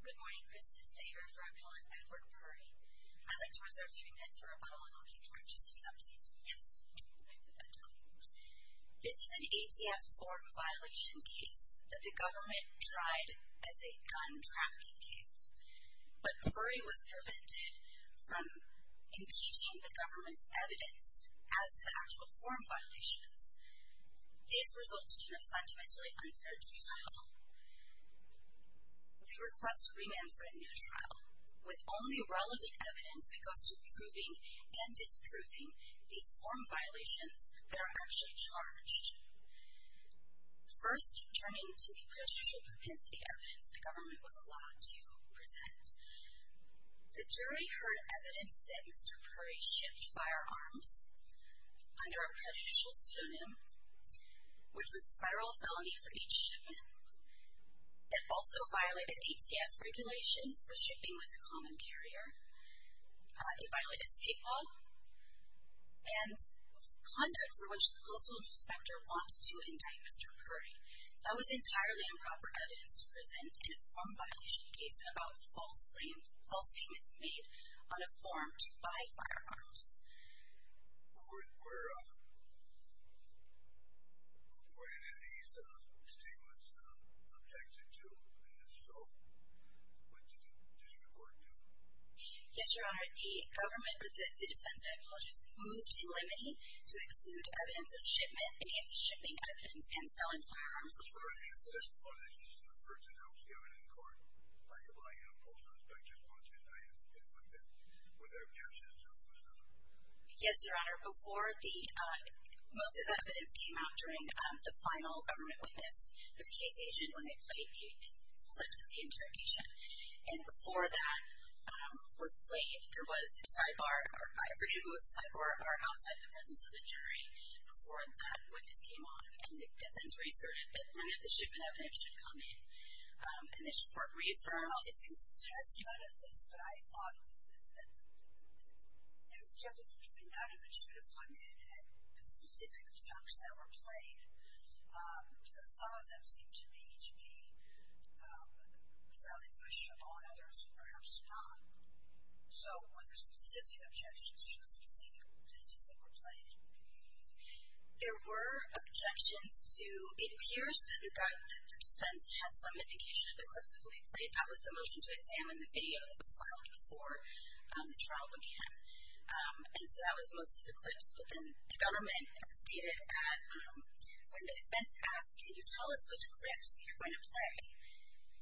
Good morning, Kristen Thaver for Appellant Edward Purry. I'd like to reserve three minutes for a colonel in charge of substance use. This is an ATF form violation case that the government tried as a gun trafficking case, but Purry was prevented from impeaching the government's evidence as to the actual form violations. This resulted in a fundamentally unfair trial. We request a remand for a new trial with only relevant evidence that goes to proving and disproving these form violations that are actually charged. First, turning to the pre-judicial propensity evidence the government was allowed to present, the jury heard evidence that Mr. Purry shipped firearms under a prejudicial pseudonym, which was a federal felony for each shipment. It also violated ATF regulations for shipping with a common carrier. It violated state law and conduct for which the postal inspector wanted to indict Mr. Purry. That was entirely improper evidence to present in a form violation case about false claims, false statements made on a form to buy firearms. Were any of these statements objected to in this trial? What did the district court do? Yes, Your Honor. The government, with the defense technologists, moved in limine to exclude evidence of shipment, any of the shipping evidence, and selling firearms. Were any of the testimonies referred to the House given in court, like the violation of postal inspectors wanted to indict him, anything like that, were there objections to those? Yes, Your Honor. Before the, most of that evidence came out during the final government witness, the case agent, when they played the clips of the interrogation, and before that was played, there was a sidebar, I forget if it was a sidebar or outside the presence of the jury, before that witness came on. And the defense reaffirmed that none of the shipment evidence should come in. And the district court reaffirmed... Well, it's consistent, I see none of this, but I thought that there's objections, but none of it should have come in at the specific objections that were played, because some of them seemed to me to be fairly push on others, perhaps not. So, were there specific objections to the specific witnesses that were played? There were objections to... It appears that the defense had some indication of the clips that were being played. That was the motion to examine the video that was filed before the trial began. And so that was most of the clips. But then the government stated that when the defense asked, can you tell us which clips you're going to play,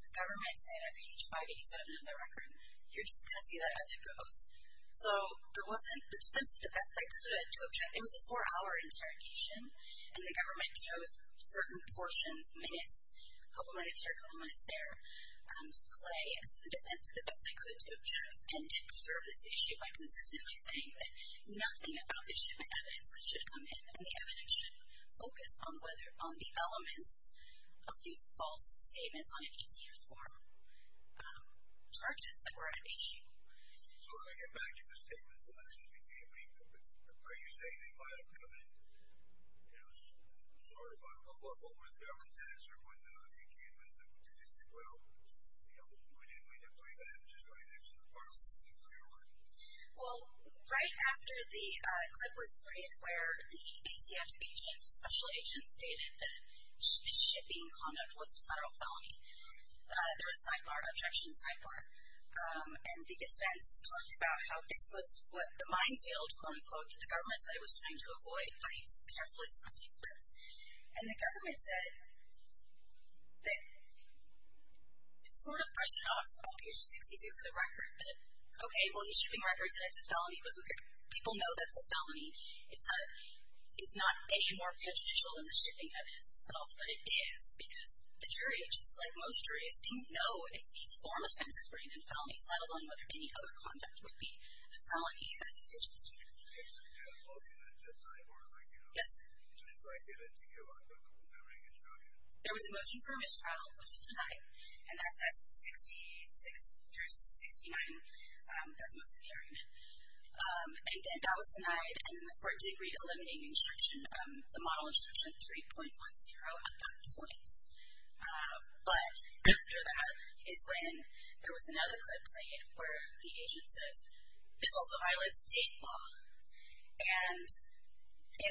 the government said at page 587 of the record, you're just going to see that as it goes. So, there wasn't... The defense did the best they could to object. It was a four-hour interrogation, and the government chose certain portions, minutes, a couple minutes here, a couple minutes there, to play. And so the defense did the best they could to object and to preserve this issue by consistently saying that nothing about the shipment evidence should come in, and the evidence should focus on the elements of the false statements on an ETS form, charges that were at issue. So, let me get back to the statements that actually came in. Are you saying they might have come in, you know, sort of, but what was the government's answer when you came in? Did you say, well, you know, we didn't play that. It's just right next to the parts. It's a clear one. Well, right after the clip was played where the ETF agent, special agent, stated that the shipping conduct was a federal felony, there was sidebar, objection sidebar. And the defense talked about how this was what the minefield, quote-unquote, the government said it was trying to avoid by carefully selecting clips. And the government said that it sort of brushed it off on page 66 of the record that, okay, well, the shipping record said it's a felony, but people know that's a felony. It's not any more prejudicial than the shipping evidence itself, but it is because the jury, just like most juries, didn't know if these form offenses were even felonies, let alone whether any other conduct would be a felony as a judicial standard. Did you get a motion at that time or, like, you know, to strike it and to give up the covering instruction? There was a motion for a mistrial, which was denied, and that's at 66 through 69. That's most of the arraignment. And that was denied, and then the court did read a limiting instruction, the model instruction 3.10 at that point. But after that is when there was another clip played where the agent says, this also violates state law. And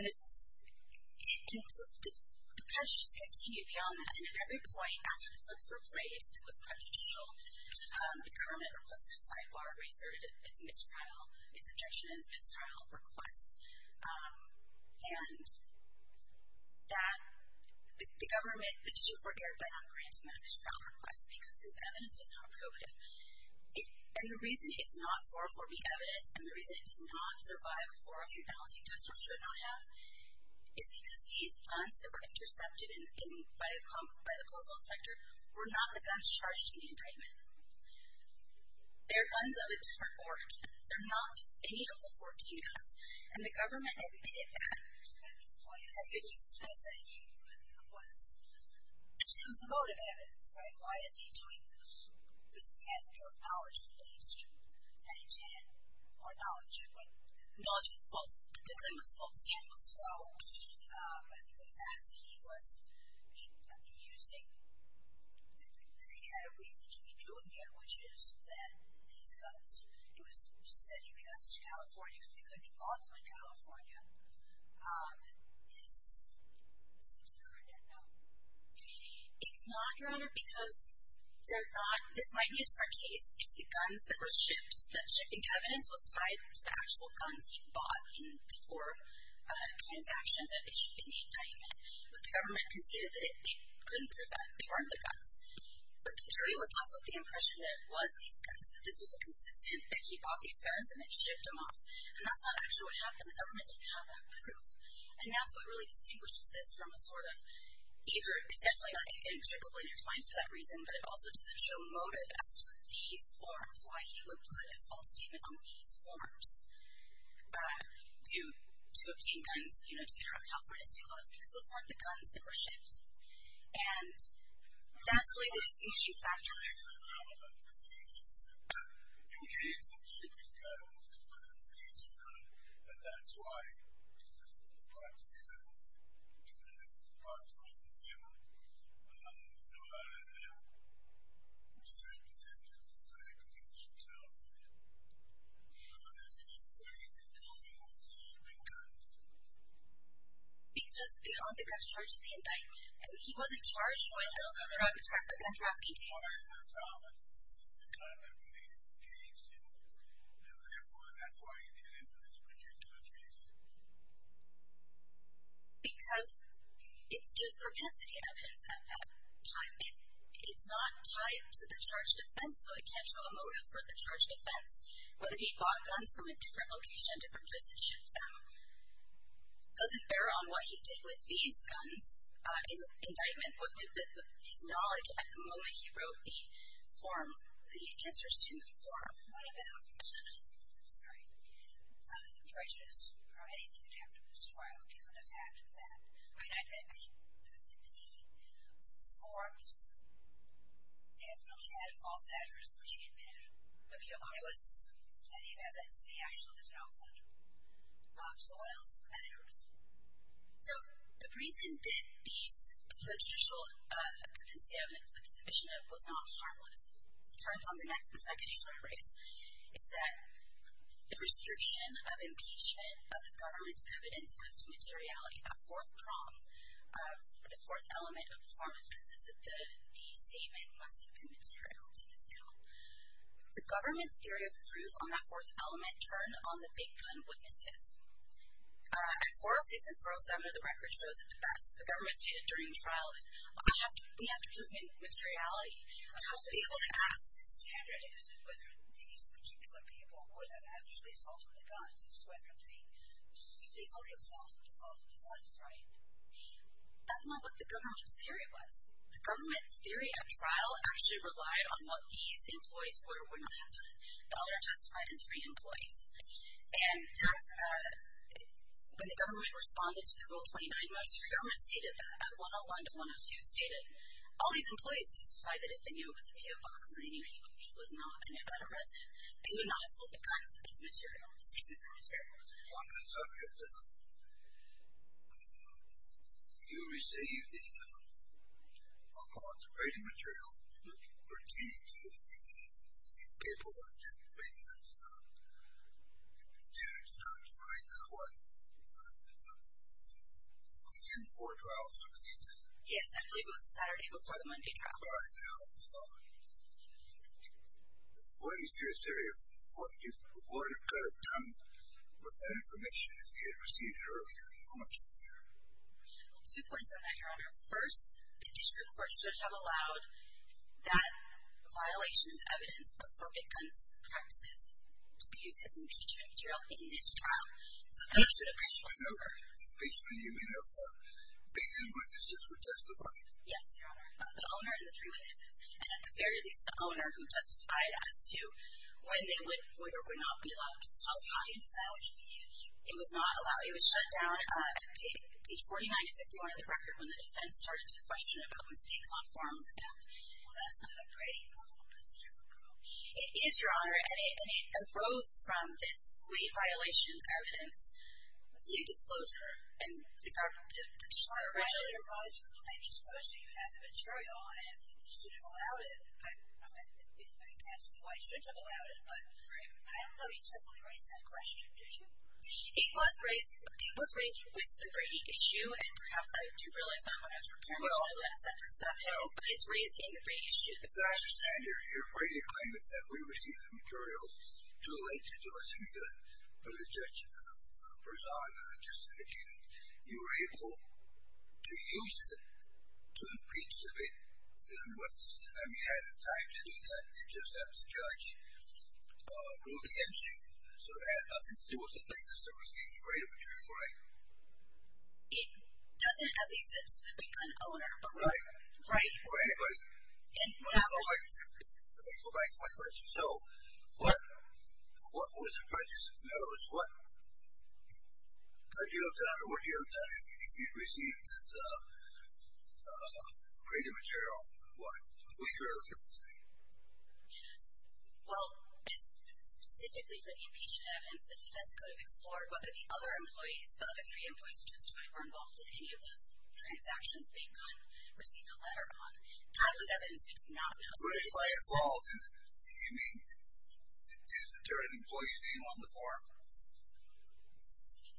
the judge just kept hitting it beyond that, and at every point after the clips were played, it was prejudicial. The government requested a sidebar, reserted its objection as a mistrial request. And that the government, the judge, forgave that grant to manage trial requests because this evidence was not probative. And the reason it's not 404B evidence, and the reason it does not survive 403 balancing tests or should not have, is because these guns that were intercepted by the postal inspector were not the guns charged in the indictment. They're guns of a different order. They're not any of the 14 guns. And the government admitted that at this point. At this instance, it was a motive evidence, right? Why is he doing this? Because he has enough knowledge that he needs to, and he's had more knowledge. But knowledge was false. The claim was false. And so the fact that he was abusing, that he had a reason to be doing it, which is that these guns, he was sending the guns to California because he couldn't be brought to California, is substandard, no? It's not, Your Honor, because they're not, this might be a different case if the guns that were shipped, the shipping evidence was tied to the actual guns he bought for transactions that issued in the indictment. But the government conceded that it couldn't prove that they weren't the guns. But the jury was left with the impression that it was these guns. That this was consistent, that he bought these guns and then shipped them off. And that's not actually what happened. The government didn't have that proof. And that's what really distinguishes this from a sort of either, it's definitely not in a particular way intertwined for that reason, but it also doesn't show motive as to these forms, why he would put a false statement on these forms to obtain guns, you know, to get around California state laws, because those weren't the guns that were shipped. And that's really the distinguishing factor. Because it's possible that you know how to represent yourself so that you can keep yourself accountable for that. So there's no footings on those shipping guns. Because on the guns charged in the indictment, he wasn't charged when he was trying to track the gun trafficking case. That's part of the problem. It's a consistent kind of case, and therefore that's why he did it in this particular case. Because it's just propensity evidence at that time. It's not tied to the charge of defense, so it can't show a motive for the charge of defense. Whether he bought guns from a different location, different place and shipped them, doesn't bear on what he did with these guns in the indictment. What did he acknowledge at the moment he wrote the form, the answers to the form? What about the prejudice or anything you'd have to destroy, given the fact that the forms definitely had a false address, which he admitted. There was plenty of evidence that he actually lived in Oakland. So what else matters? So the reason that these judicial convincing evidence that he submitted was not harmless, turns on the next, the second issue I raised, is that the restriction of impeachment of the government's evidence as to materiality, that fourth prong, the fourth element of the form of defense, is that the statement must have been material to the sale. The government's theory of proof on that fourth element turned on the big gun witnesses. At 406 and 407, the record shows it the best. The government stated during the trial, we have to prove materiality. We have to be able to ask this candidate as to whether these particular people would have actually sold him the guns, whether they only have sold him the guns, right? That's not what the government's theory was. The government's theory at trial actually relied on what these employees were. We're not after the other testified and three employees. And when the government responded to the Rule 29, most of the government stated that. And 101 to 102 stated, all these employees testified that if they knew it was a PO box and they knew he was not an Nevada resident, they would not have sold the guns if it's material, if the statements are material. On that subject, you received a concentrated material pertaining to your paperwork, but the candidate did not write that one. Was it before trial? Yes, I believe it was the Saturday before the Monday trial. All right. Now, what is your theory of what you could have done with that information if you had received it earlier? How much earlier? Two points on that, Your Honor. First, the district court should have allowed that violation as evidence for big guns practices to be used as impeachment material in this trial. So that should have been over. Basically, you mean that the big gun witnesses were justified? Yes, Your Honor, the owner and the three witnesses. And at the very least, the owner who justified as to when they would or would not be allowed to sell the guns. Oh, you didn't sell it to the users? It was not allowed. It was shut down at page 49 to 51 of the record when the defense started to question about mistakes on forms. Well, that's not a Brady rule. That's a different rule. It is, Your Honor. And it arose from this late violations evidence. The disclosure and the part of the petition. Originally, it was from the same disclosure. You had the material, and I don't think you should have allowed it. I can't see why you shouldn't have allowed it. But I don't know. You simply raised that question, did you? It was raised with the Brady issue, and perhaps I do realize that when I was preparing Well, as I understand it, your Brady claim is that we received the material too late to do us any good. But as Judge Berzon just indicated, you were able to use it to impeach the victim. But this is the time you had the time to do that. You just have the judge rule against you. So that has nothing to do with the fact that you received the Brady material, right? It doesn't have these steps. Right. Well, anyway, let me go back to my question. So what was the prejudice? In other words, what could you have done or would you have done if you'd received that Brady material? We clearly didn't receive it. Well, specifically for the impeachment evidence, the defense could have explored whether the other employees, who testified, were involved in any of those transactions. They could have received a letter on it. That was evidence we did not have. Who did testify involved? You mean the deterrent employee's name on the form?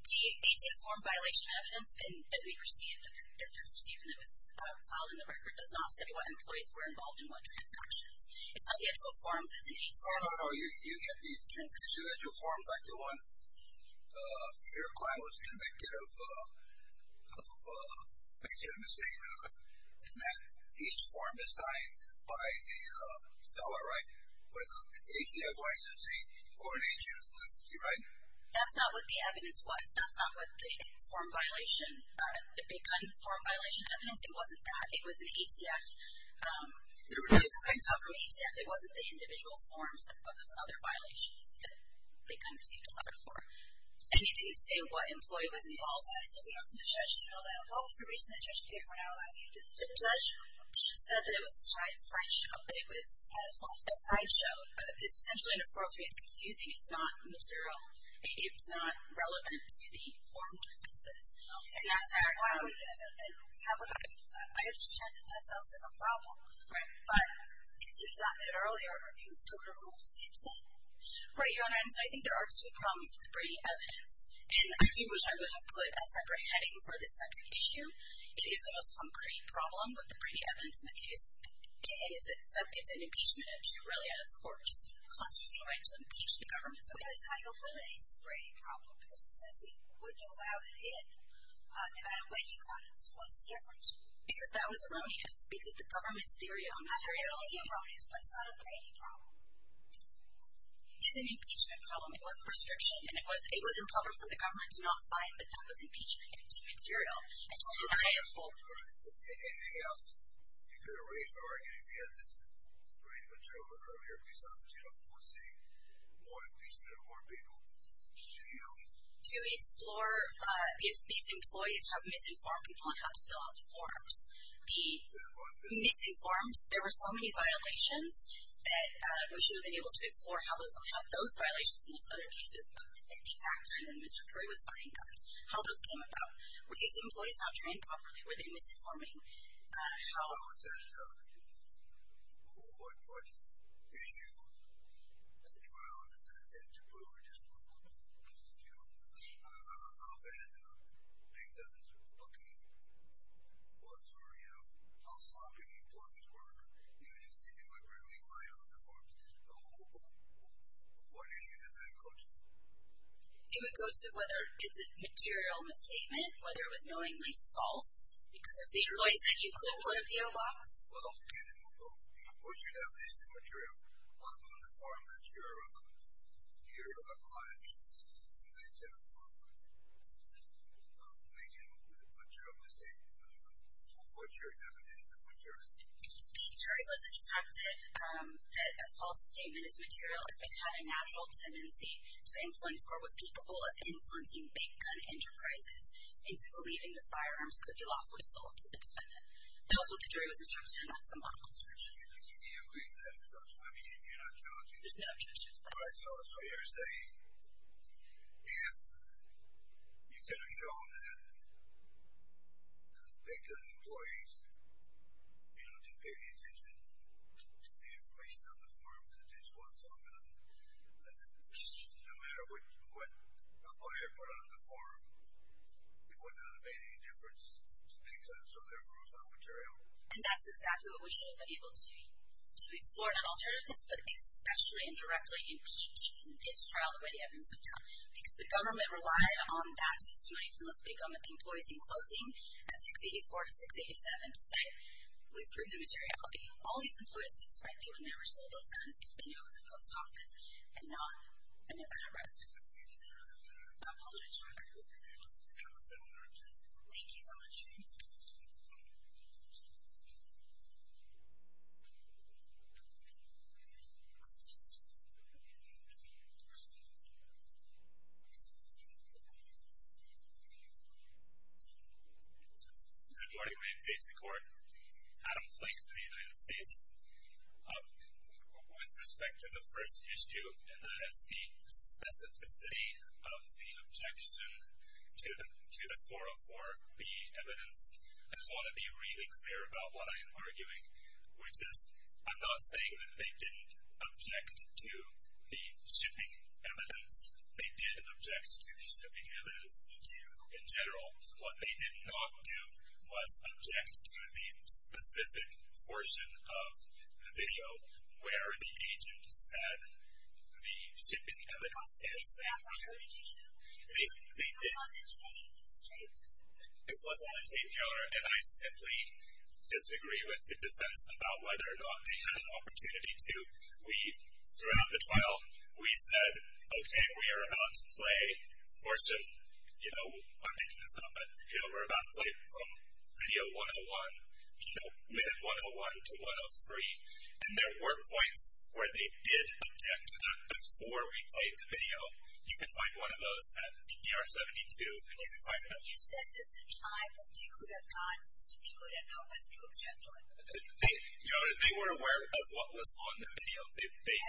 The ATO form violation evidence that we received, the defense received when it was filed in the record, does not say what employees were involved in what transactions. It's not the actual forms. It's an ATO form. Oh, no, no, no. You get the individual forms like the one your client was convicted of making a mistake, in that each form is signed by the seller, right, with an ATF licensee or an ATO licensee, right? That's not what the evidence was. That's not what the form violation, the big-time form violation evidence. It wasn't that. It was an ATF. It wasn't the individual forms. It was those other violations that the client received a letter for. And it didn't say what employee was involved in. The judge said that it was a sideshow, that it was a sideshow. Essentially, in a 403, it's confusing. It's not material. It's not relevant to the form defenses. And I understand that that's also a problem. Right. But, as you've gotten it earlier, it was total rules. It's not. Right, Your Honor, and so I think there are two problems with the Brady evidence. And I do wish I would have put a separate heading for this separate issue. It is the most concrete problem with the Brady evidence. It's an impeachment, really, out of court. It's a constitutional right to impeach the government. So that's how you eliminate the Brady problem? Because essentially, what you allowed it in, no matter when you got it, was different. Because that was erroneous. Because the government's theory on materials. Not really erroneous, but it's not a Brady problem. It's an impeachment problem. It was a restriction. And it was in public, so the government did not sign, but that was impeachment material. Anything else? You could have raised the argument if you had this Brady material earlier, you could have raised the argument if you had this idea of using more information about people. Do you? To explore if these employees have misinformed people on how to fill out the forms. The misinformed, there were so many violations, that we should have been able to explore how those violations in these other cases at the exact time that Mr. Perry was buying guns, how those came about. Were these employees not trained properly? Were they misinforming? What issue does that tend to prove? How bad the big guns were looking? How sloppy the employees were. Even if they do apparently lie on the forms. What issue does that go to? It would go to whether it's a material misstatement, whether it was knowingly false because of the employees that you couldn't put at the inbox. Well, what's your definition of material? On the form that you're here to apply, is it making a material misstatement? What's your definition of material misstatement? The attorney was instructed that a false statement is material if it had a natural tendency to influence or was capable of influencing big gun enterprises into believing that firearms could be lawfully sold to the defendant. Also, the jury was instructed, and that's the model instruction. Do you agree with that instruction? I mean, if you're not challenging it. There's no objection to that. All right, so you're saying if you could have shown that the big gun employees didn't pay any attention to the information on the form because they didn't pay attention to the information on the form, it wouldn't have made any difference to the big guns, so therefore it was not material? And that's exactly what we should have been able to do, to explore that alternative, but especially and directly impeach this trial the way the evidence would tell. Because the government relied on that to sue, let's pick on the employees in closing at 684 to 687 to say, we've proven materiality. All these employees did this right, they would never have sold those guns if they knew it was a post office and not an embezzler. I apologize, Your Honor. Thank you so much. Good morning. My name is Jason McCord. Adam Flake for the United States. With respect to the first issue, and that is the specificity of the objection to the 404B evidence, I just want to be really clear about what I am arguing, which is I'm not saying that they didn't object to the shipping evidence. They did object to the shipping evidence in general. What they did not do was object to the specific portion of the video where the agent said the shipping evidence is. It was on the tape, Your Honor, and I simply disagree with the defense about whether or not they had an opportunity to. Throughout the trial, we said, okay, we are about to play for some, you know, I'm making this up, but, you know, we're about to play from video 101, you know, minute 101 to 103, and there were points where they did object to that before we played the video. You can find one of those at ER 72, and you can find that. You said this in time, and you could have gotten to it and not have to object to it. They were aware of what was on the video. They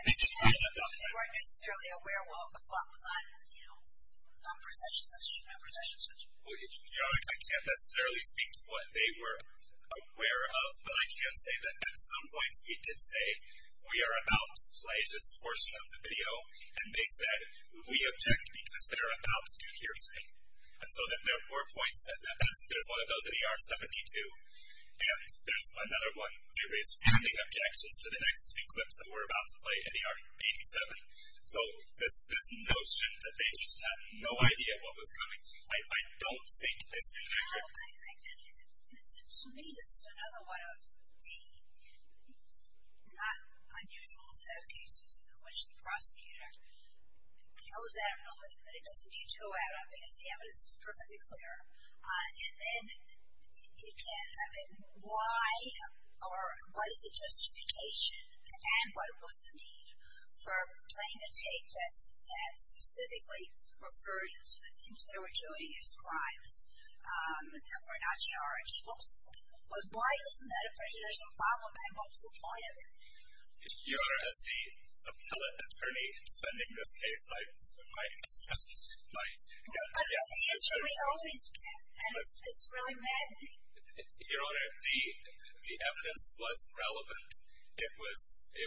did not object. They weren't necessarily aware of what was on, you know, non-presentation session and presentation session. Your Honor, I can't necessarily speak to what they were aware of, but I can say that at some points we did say we are about to play this portion of the video, and they said we object because they're about to hear something, and so there were points at that. There's one of those at ER 72, and there's another one. There is standing objections to the next two clips that we're about to play at ER 87. So this notion that they just had no idea what was coming, I don't think is accurate. So to me, this is another one of the unusual set of cases in which the prosecutor goes at it, but it doesn't need to go at it, because the evidence is perfectly clear. And then, again, I mean, why or what is the justification and what was the need for playing a tape that specifically referred to the things they were doing as crimes that were not charged? Why isn't that a question? There's a problem, and what was the point of it? Your Honor, as the appellate attorney in sending this case, I just might. But it's the answer we always get, and it's really maddening. Your Honor, the evidence was relevant. It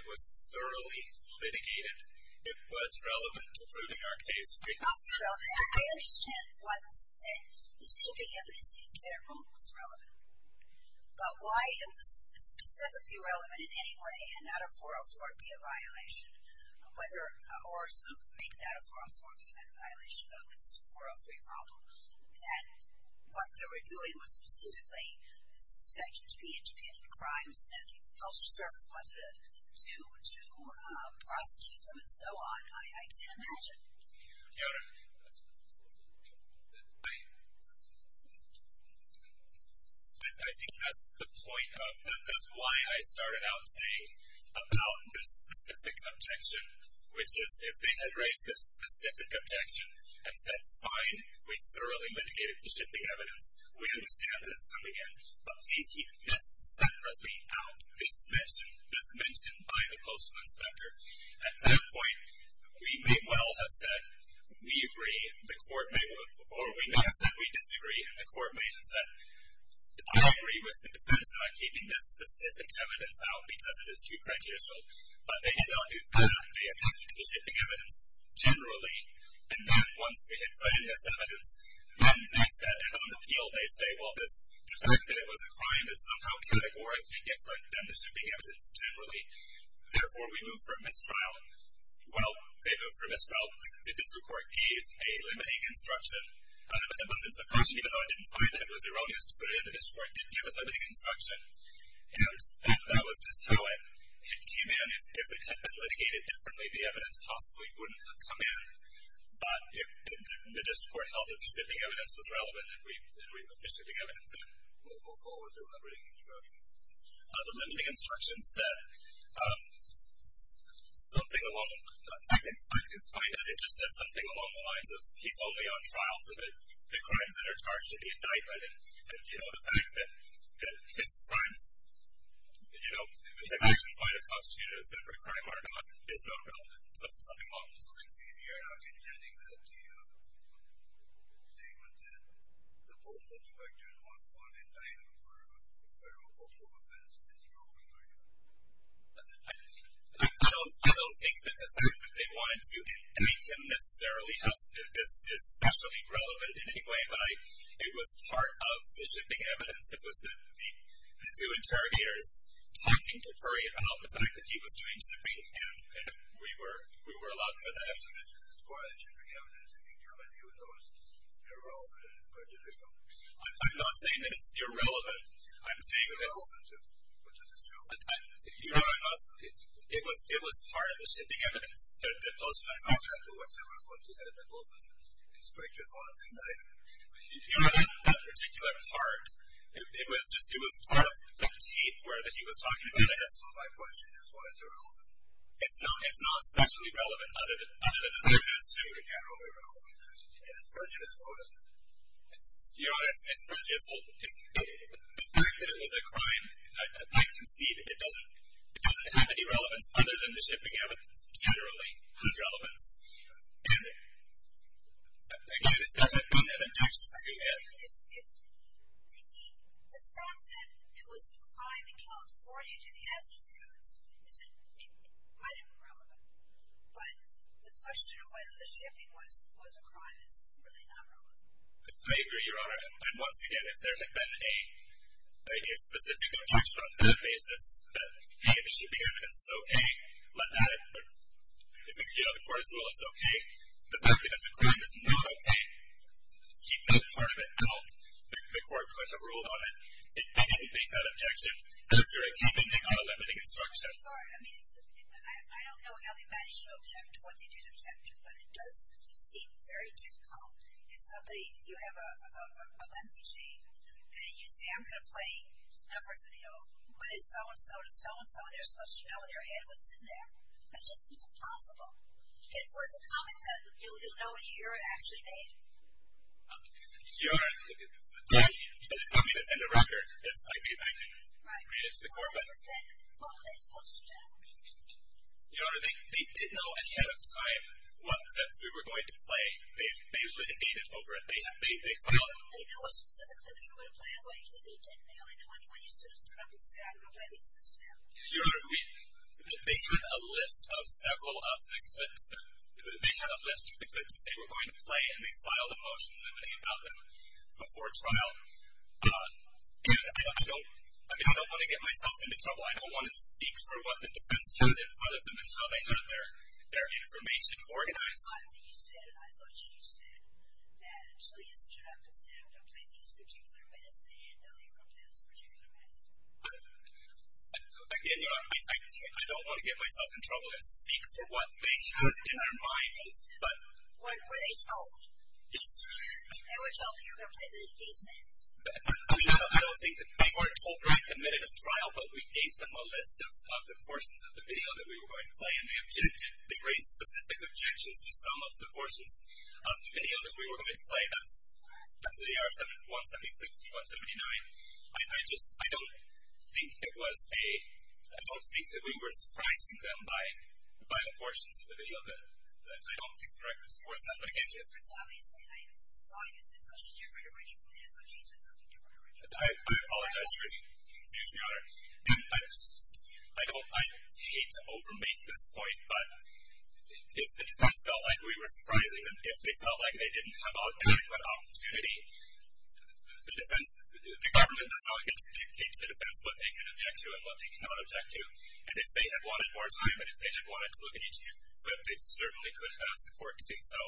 was thoroughly litigated. It was relevant to proving our case. It was relevant. I understand what was said. The shooting evidence in general was relevant. But why it was specifically relevant in any way and not a 404 be a violation, or maybe not a 404 be a violation of this 403 problem, and what they were doing was specifically suspecting to be independent crimes and the culture service wanted to prosecute them and so on, I can imagine. Your Honor, I think that's the point of why I started out saying about this specific objection, which is if they had raised this specific objection and said, fine, we thoroughly litigated the shipping evidence, we understand that it's coming in, but please keep this separately out, this mention by the postal inspector, at that point, we may well have said, we agree, the court may have said, we disagree, and the court may have said, I agree with the defense not keeping this specific evidence out because it is too prejudicial, but they did not do that. They attached it to the shipping evidence generally, and then once we had put in this evidence, then that's it. And on the appeal, they say, well, the fact that it was a crime is somehow categorically different than the shipping evidence generally, therefore we move for mistrial. Well, they moved for mistrial because the district court gave a limiting instruction. Out of an abundance of caution, even though I didn't find that it was erroneous to put it in, the district court did give a limiting instruction. And that was just how it came in. If it had been litigated differently, the evidence possibly wouldn't have come in, but the district court held that the shipping evidence was relevant, and we agreed with the shipping evidence, and we'll go forward with the limiting instruction. The limiting instruction said something along the lines of, he's only on trial for the crimes that are charged in the indictment, and, you know, the fact that his crimes, you know, the fact that he might have constituted a separate crime argument is not relevant. Something along those lines. You're not contending that the statement that the postal directors want one indictment for a federal postal offense is wrong, are you? I don't think that the fact that they wanted to indict him necessarily is especially relevant in any way, but it was part of the shipping evidence. It was the two interrogators talking to Curry about the fact that he was doing shipping, and we were allowed to have that evidence. But the shipping evidence in Germany was the most irrelevant and perjudicial. I'm not saying that it's irrelevant. It's irrelevant, too, but that's true. You know what I'm asking? It was part of the shipping evidence that the postal directors wanted. I don't know what they were going to end up with, an inspector's warrant indictment. You know, that particular part, it was part of the tape where he was talking about it. So my question is, why is it relevant? It's not especially relevant, other than the fact that it's true. It's generally relevant, and it's perjudicial, isn't it? You know, it's perjudicial. The fact that it was a crime, I concede it doesn't have any relevance other than the shipping evidence. It's generally irrelevant. And, again, it's definitely been an objection to it. I mean, if the fact that it was a crime and killed 40 to the absence codes, it might have been relevant. But the question of whether the shipping was a crime is really not relevant. I agree, Your Honor. And once again, if there had been a specific objection on that basis, that, hey, the shipping evidence is okay, let that occur. You know, the court's rule is okay. The fact that it's a crime is not okay. Keep that part of it out. The court could have ruled on it. If they didn't make that objection, is there a keeping thing on a limiting instruction? I don't know how they manage to object to what they did object to, but it does seem very difficult. If somebody, you have an MCG, and you say, I'm going to play a person, you know, but it's so-and-so to so-and-so, and they're supposed to know in their head what's in there. It just seems impossible. If there was a comment that you don't know in your ear it actually made? Your Honor, I mean, it's in the record. It's like we've had to read it to the court. Well, then, what were they supposed to do? Your Honor, they did know ahead of time what steps we were going to play. They litigated over it. They filed it. They knew what specific steps we were going to play. That's why you said they didn't know. They knew when you just interrupted and said, I'm going to play these steps now. Your Honor, they had a list of several of the clips. They had a list of the clips that they were going to play, and they filed a motion limiting about them before trial. And I don't want to get myself into trouble. I don't want to speak for what the defense had in front of them and how they had their information organized. After you said it, I thought you said that until you stood up and said, I'm going to play these particular minutes, they didn't know they were going to play those particular minutes. Again, Your Honor, I don't want to get myself in trouble. It speaks for what they had in their mind. Were they told? Yes. They were told that you were going to play these minutes? I don't think that they were told during the minute of trial, but we gave them a list of the portions of the video that we were going to play, and they raised specific objections to some of the portions of the video that we were going to play. That's AR 1760, 179. I don't think that we were surprising them by the portions of the video. I don't think the record supports that, but again, I apologize for confusing you, Your Honor. I hate to over-make this point, but if the defense felt like we were surprising them, if they felt like they didn't have an adequate opportunity, the government does not get to dictate to the defense what they can object to and what they cannot object to, and if they had wanted more time and if they had wanted to look at each minute, they certainly could have asked the court to do so,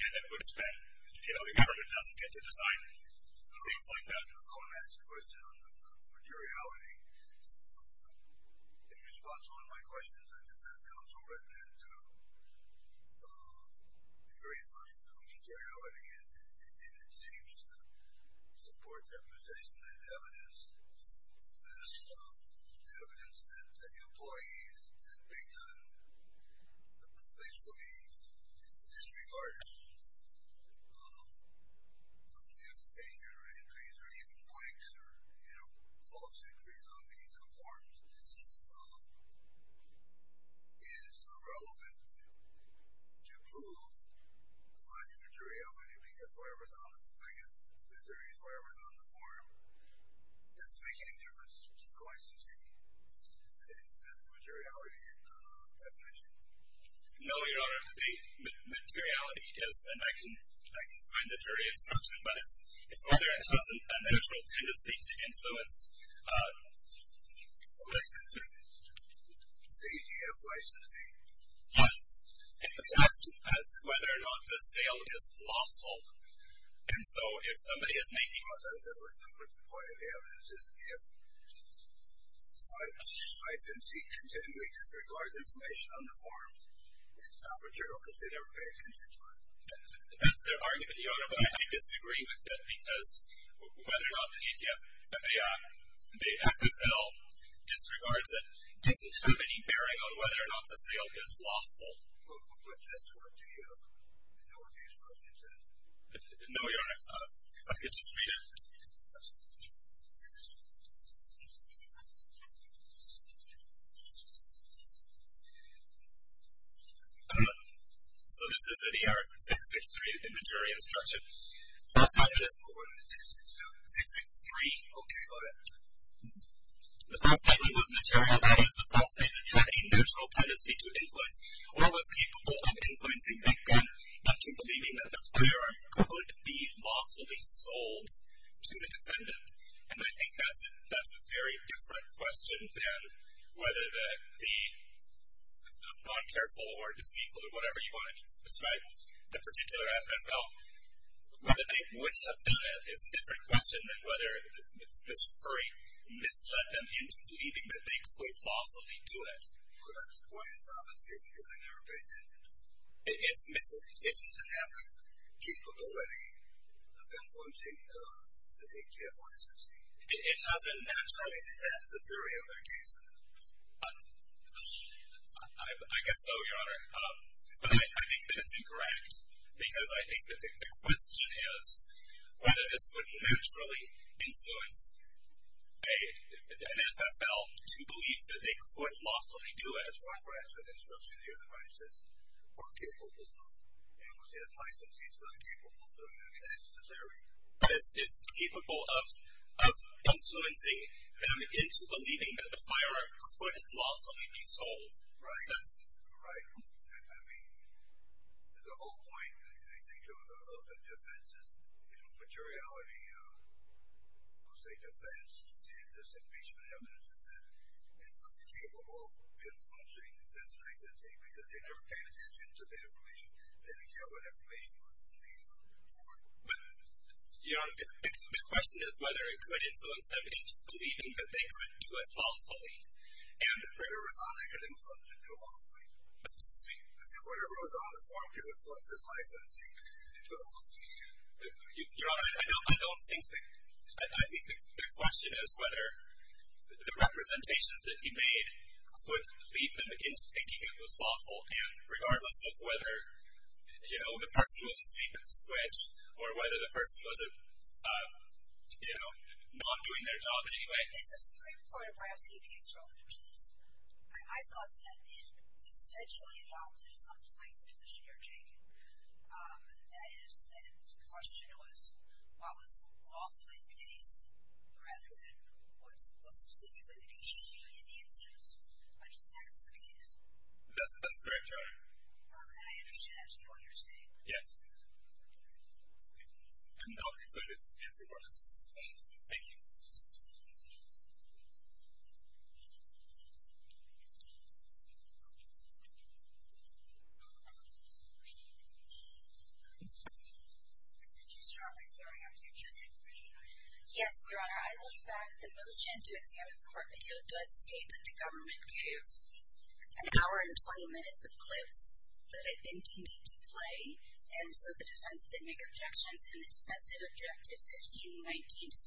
and it would have been, you know, if the government doesn't get to decide, things like that. You know, going back to the question of materiality, in response to one of my questions, the defense counsel read that very first, you know, materiality, and it seems to support their position that evidence, the evidence that the employees had begun basically disregarding identification or entries or even blanks or, you know, false entries on these forms is irrelevant to prove my materiality, because wherever it's on the form, I guess, as there is wherever it's on the form, does it make any difference to the questions you can ask? Is that the materiality definition? No, Your Honor, the materiality is, and I can find the jury in substance, but it's whether it has a natural tendency to influence. Oh, I can see. It's a EGF licensee. Yes. And it has to do with whether or not the sale is lawful. And so if somebody is making. Well, that would put the point of the evidence as if the licensee continually disregards information on the forms, That's their argument, Your Honor, but I disagree with that because whether or not the EGF, the FFL disregards it doesn't have any bearing on whether or not the sale is lawful. But that's what the EGF instruction says. No, Your Honor. If I could just read it. So this is an EGF 663 in the jury instruction. The first time it was born. 663. Okay, got it. The first time it was material, that is, the first time it had a natural tendency to influence or was capable of influencing background, up to believing that the firearm could be lawfully sold to the defendant. And I think that's a very different question than whether the non-careful or deceitful or whatever you want to describe the particular FFL, whether they would have done it is a different question than whether Mr. Curry misled them into believing that they could lawfully do it. Well, that's quite an obvious case because I never paid attention to it. It doesn't have the capability of influencing the EGF licensee. It doesn't naturally. That's the theory of their case. I guess so, Your Honor. But I think that it's incorrect because I think that the question is whether this would naturally influence an FFL to believe that they could lawfully do it. That's what Bradford instruction here that Bradford says we're capable of. And with this licensee, it's not capable of doing that. I mean, that's the theory. It's capable of influencing them into believing that the firearm could lawfully be sold. Right. Right. I mean, the whole point, I think, of the defense is, you know, materiality of, let's say, defense, this impeachment evidence is that it's not capable of influencing this licensee because they never paid attention to the information. They didn't care what information was on the firearm. But, Your Honor, the question is whether it could influence them into believing that they could do it lawfully. And whatever was on it could influence it to do it lawfully. Whatever was on the firearm could influence this licensee to do it lawfully. Your Honor, I don't think that. I think the question is whether the representations that he made would lead them into thinking it was lawful. And regardless of whether, you know, the person was asleep at the switch or whether the person was, you know, not doing their job in any way. Is the Supreme Court of Braski case relevant to this? I thought that it essentially adopted something like the position you're taking. That is, the question was, what was lawfully the case rather than what's specifically the case. And the answer is, I think that's the case. That's correct, Your Honor. And I understand that's what you're saying. Yes. And that'll be good if everyone is listening. Thank you. Thank you. Could you strongly carry on with your case inquiry? Yes, Your Honor. I look back at the motion to examine the court video. It does state that the government gave an hour and 20 minutes of clips that I think you need to play. And so the defense did make objections, and the defense did object to 1519 to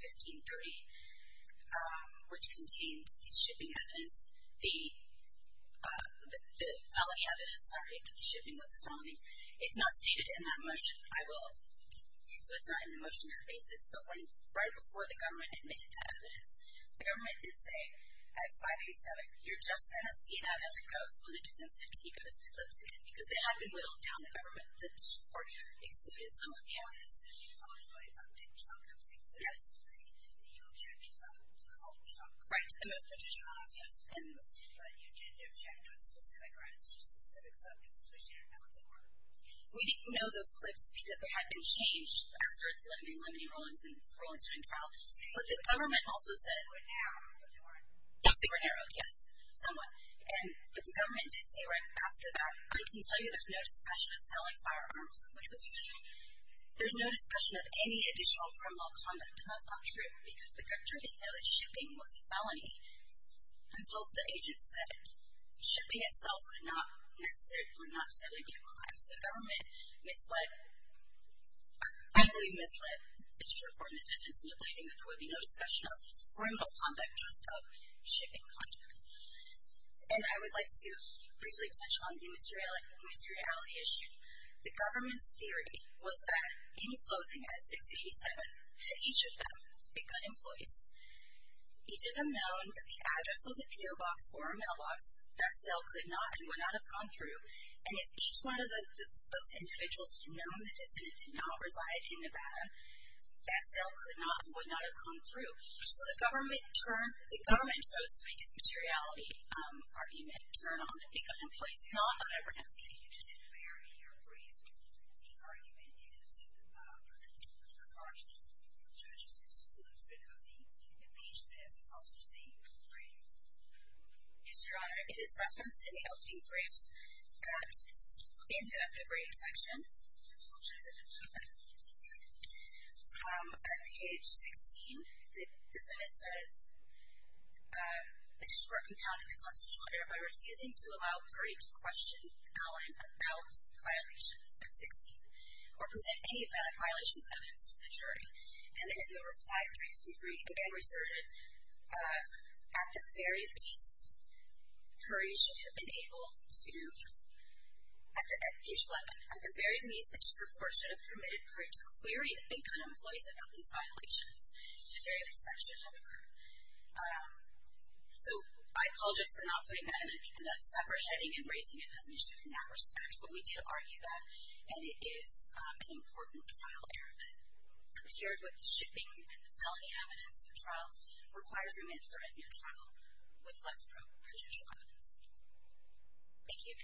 1530, which contained the shipping evidence, the felony evidence, sorry, the shipping was a felony. It's not stated in that motion. So it's not in the motion or the basis. But right before the government admitted to evidence, the government did say at 587, you're just going to see that as it goes when the defense had to keep those clips in because they had been whittled down the government. The court excluded some of the evidence. Well, as soon as you tell us, right, did yourself come to the objection? Yes. Did you object yourself to the whole of the subject? Right, to the most part. Yes. We didn't know those clips because they had been changed after the Lemony-Rollingston trial. But the government also said they were narrowed, yes, somewhat. But the government did say right after that, I can tell you there's no discussion of selling firearms, which was true. There's no discussion of any additional criminal conduct, and that's not true because the country didn't know that shipping was a felony until the agent said shipping itself could not necessarily be a crime. So the government misled, I believe misled the district court and the defense into believing that there would be no discussion of criminal conduct, just of shipping conduct. And I would like to briefly touch on the immateriality issue. The government's theory was that in closing at 687, that each of them, the Big Gun employees, each of them known that the address was a P.O. Box or a mailbox, that sale could not and would not have gone through. And if each one of those individuals had known the defendant did not reside in Nevada, that sale could not and would not have come through. So the government chose to make its materiality argument turn on the Big Gun employees, not on Everett and Skinny. If you didn't hear in your brief, the argument is that Mr. Garner's judge is exclusive of the impeachment as opposed to the brief. Mr. Honor, it is referenced in the opening brief, but in the brief section, which is at page 16, the sentence says, the district compounded the constitutional error by refusing to allow Curry to question Allen about violations at 16, or present any valid violations evidence to the jury. And then in the reply, 363, again, resorted at the very least, Curry should have been able to, at page 11, at the very least, the district court should have permitted Curry to query the Big Gun employees about these violations, at the very least, that should have occurred. So I apologize for not putting that in a separate heading and raising it as an issue in that respect, but we did argue that. And it is an important trial error that, compared with the shipping and the felony evidence, the trial requires remit for a new trial with less proven judicial evidence. Thank you. Thank you.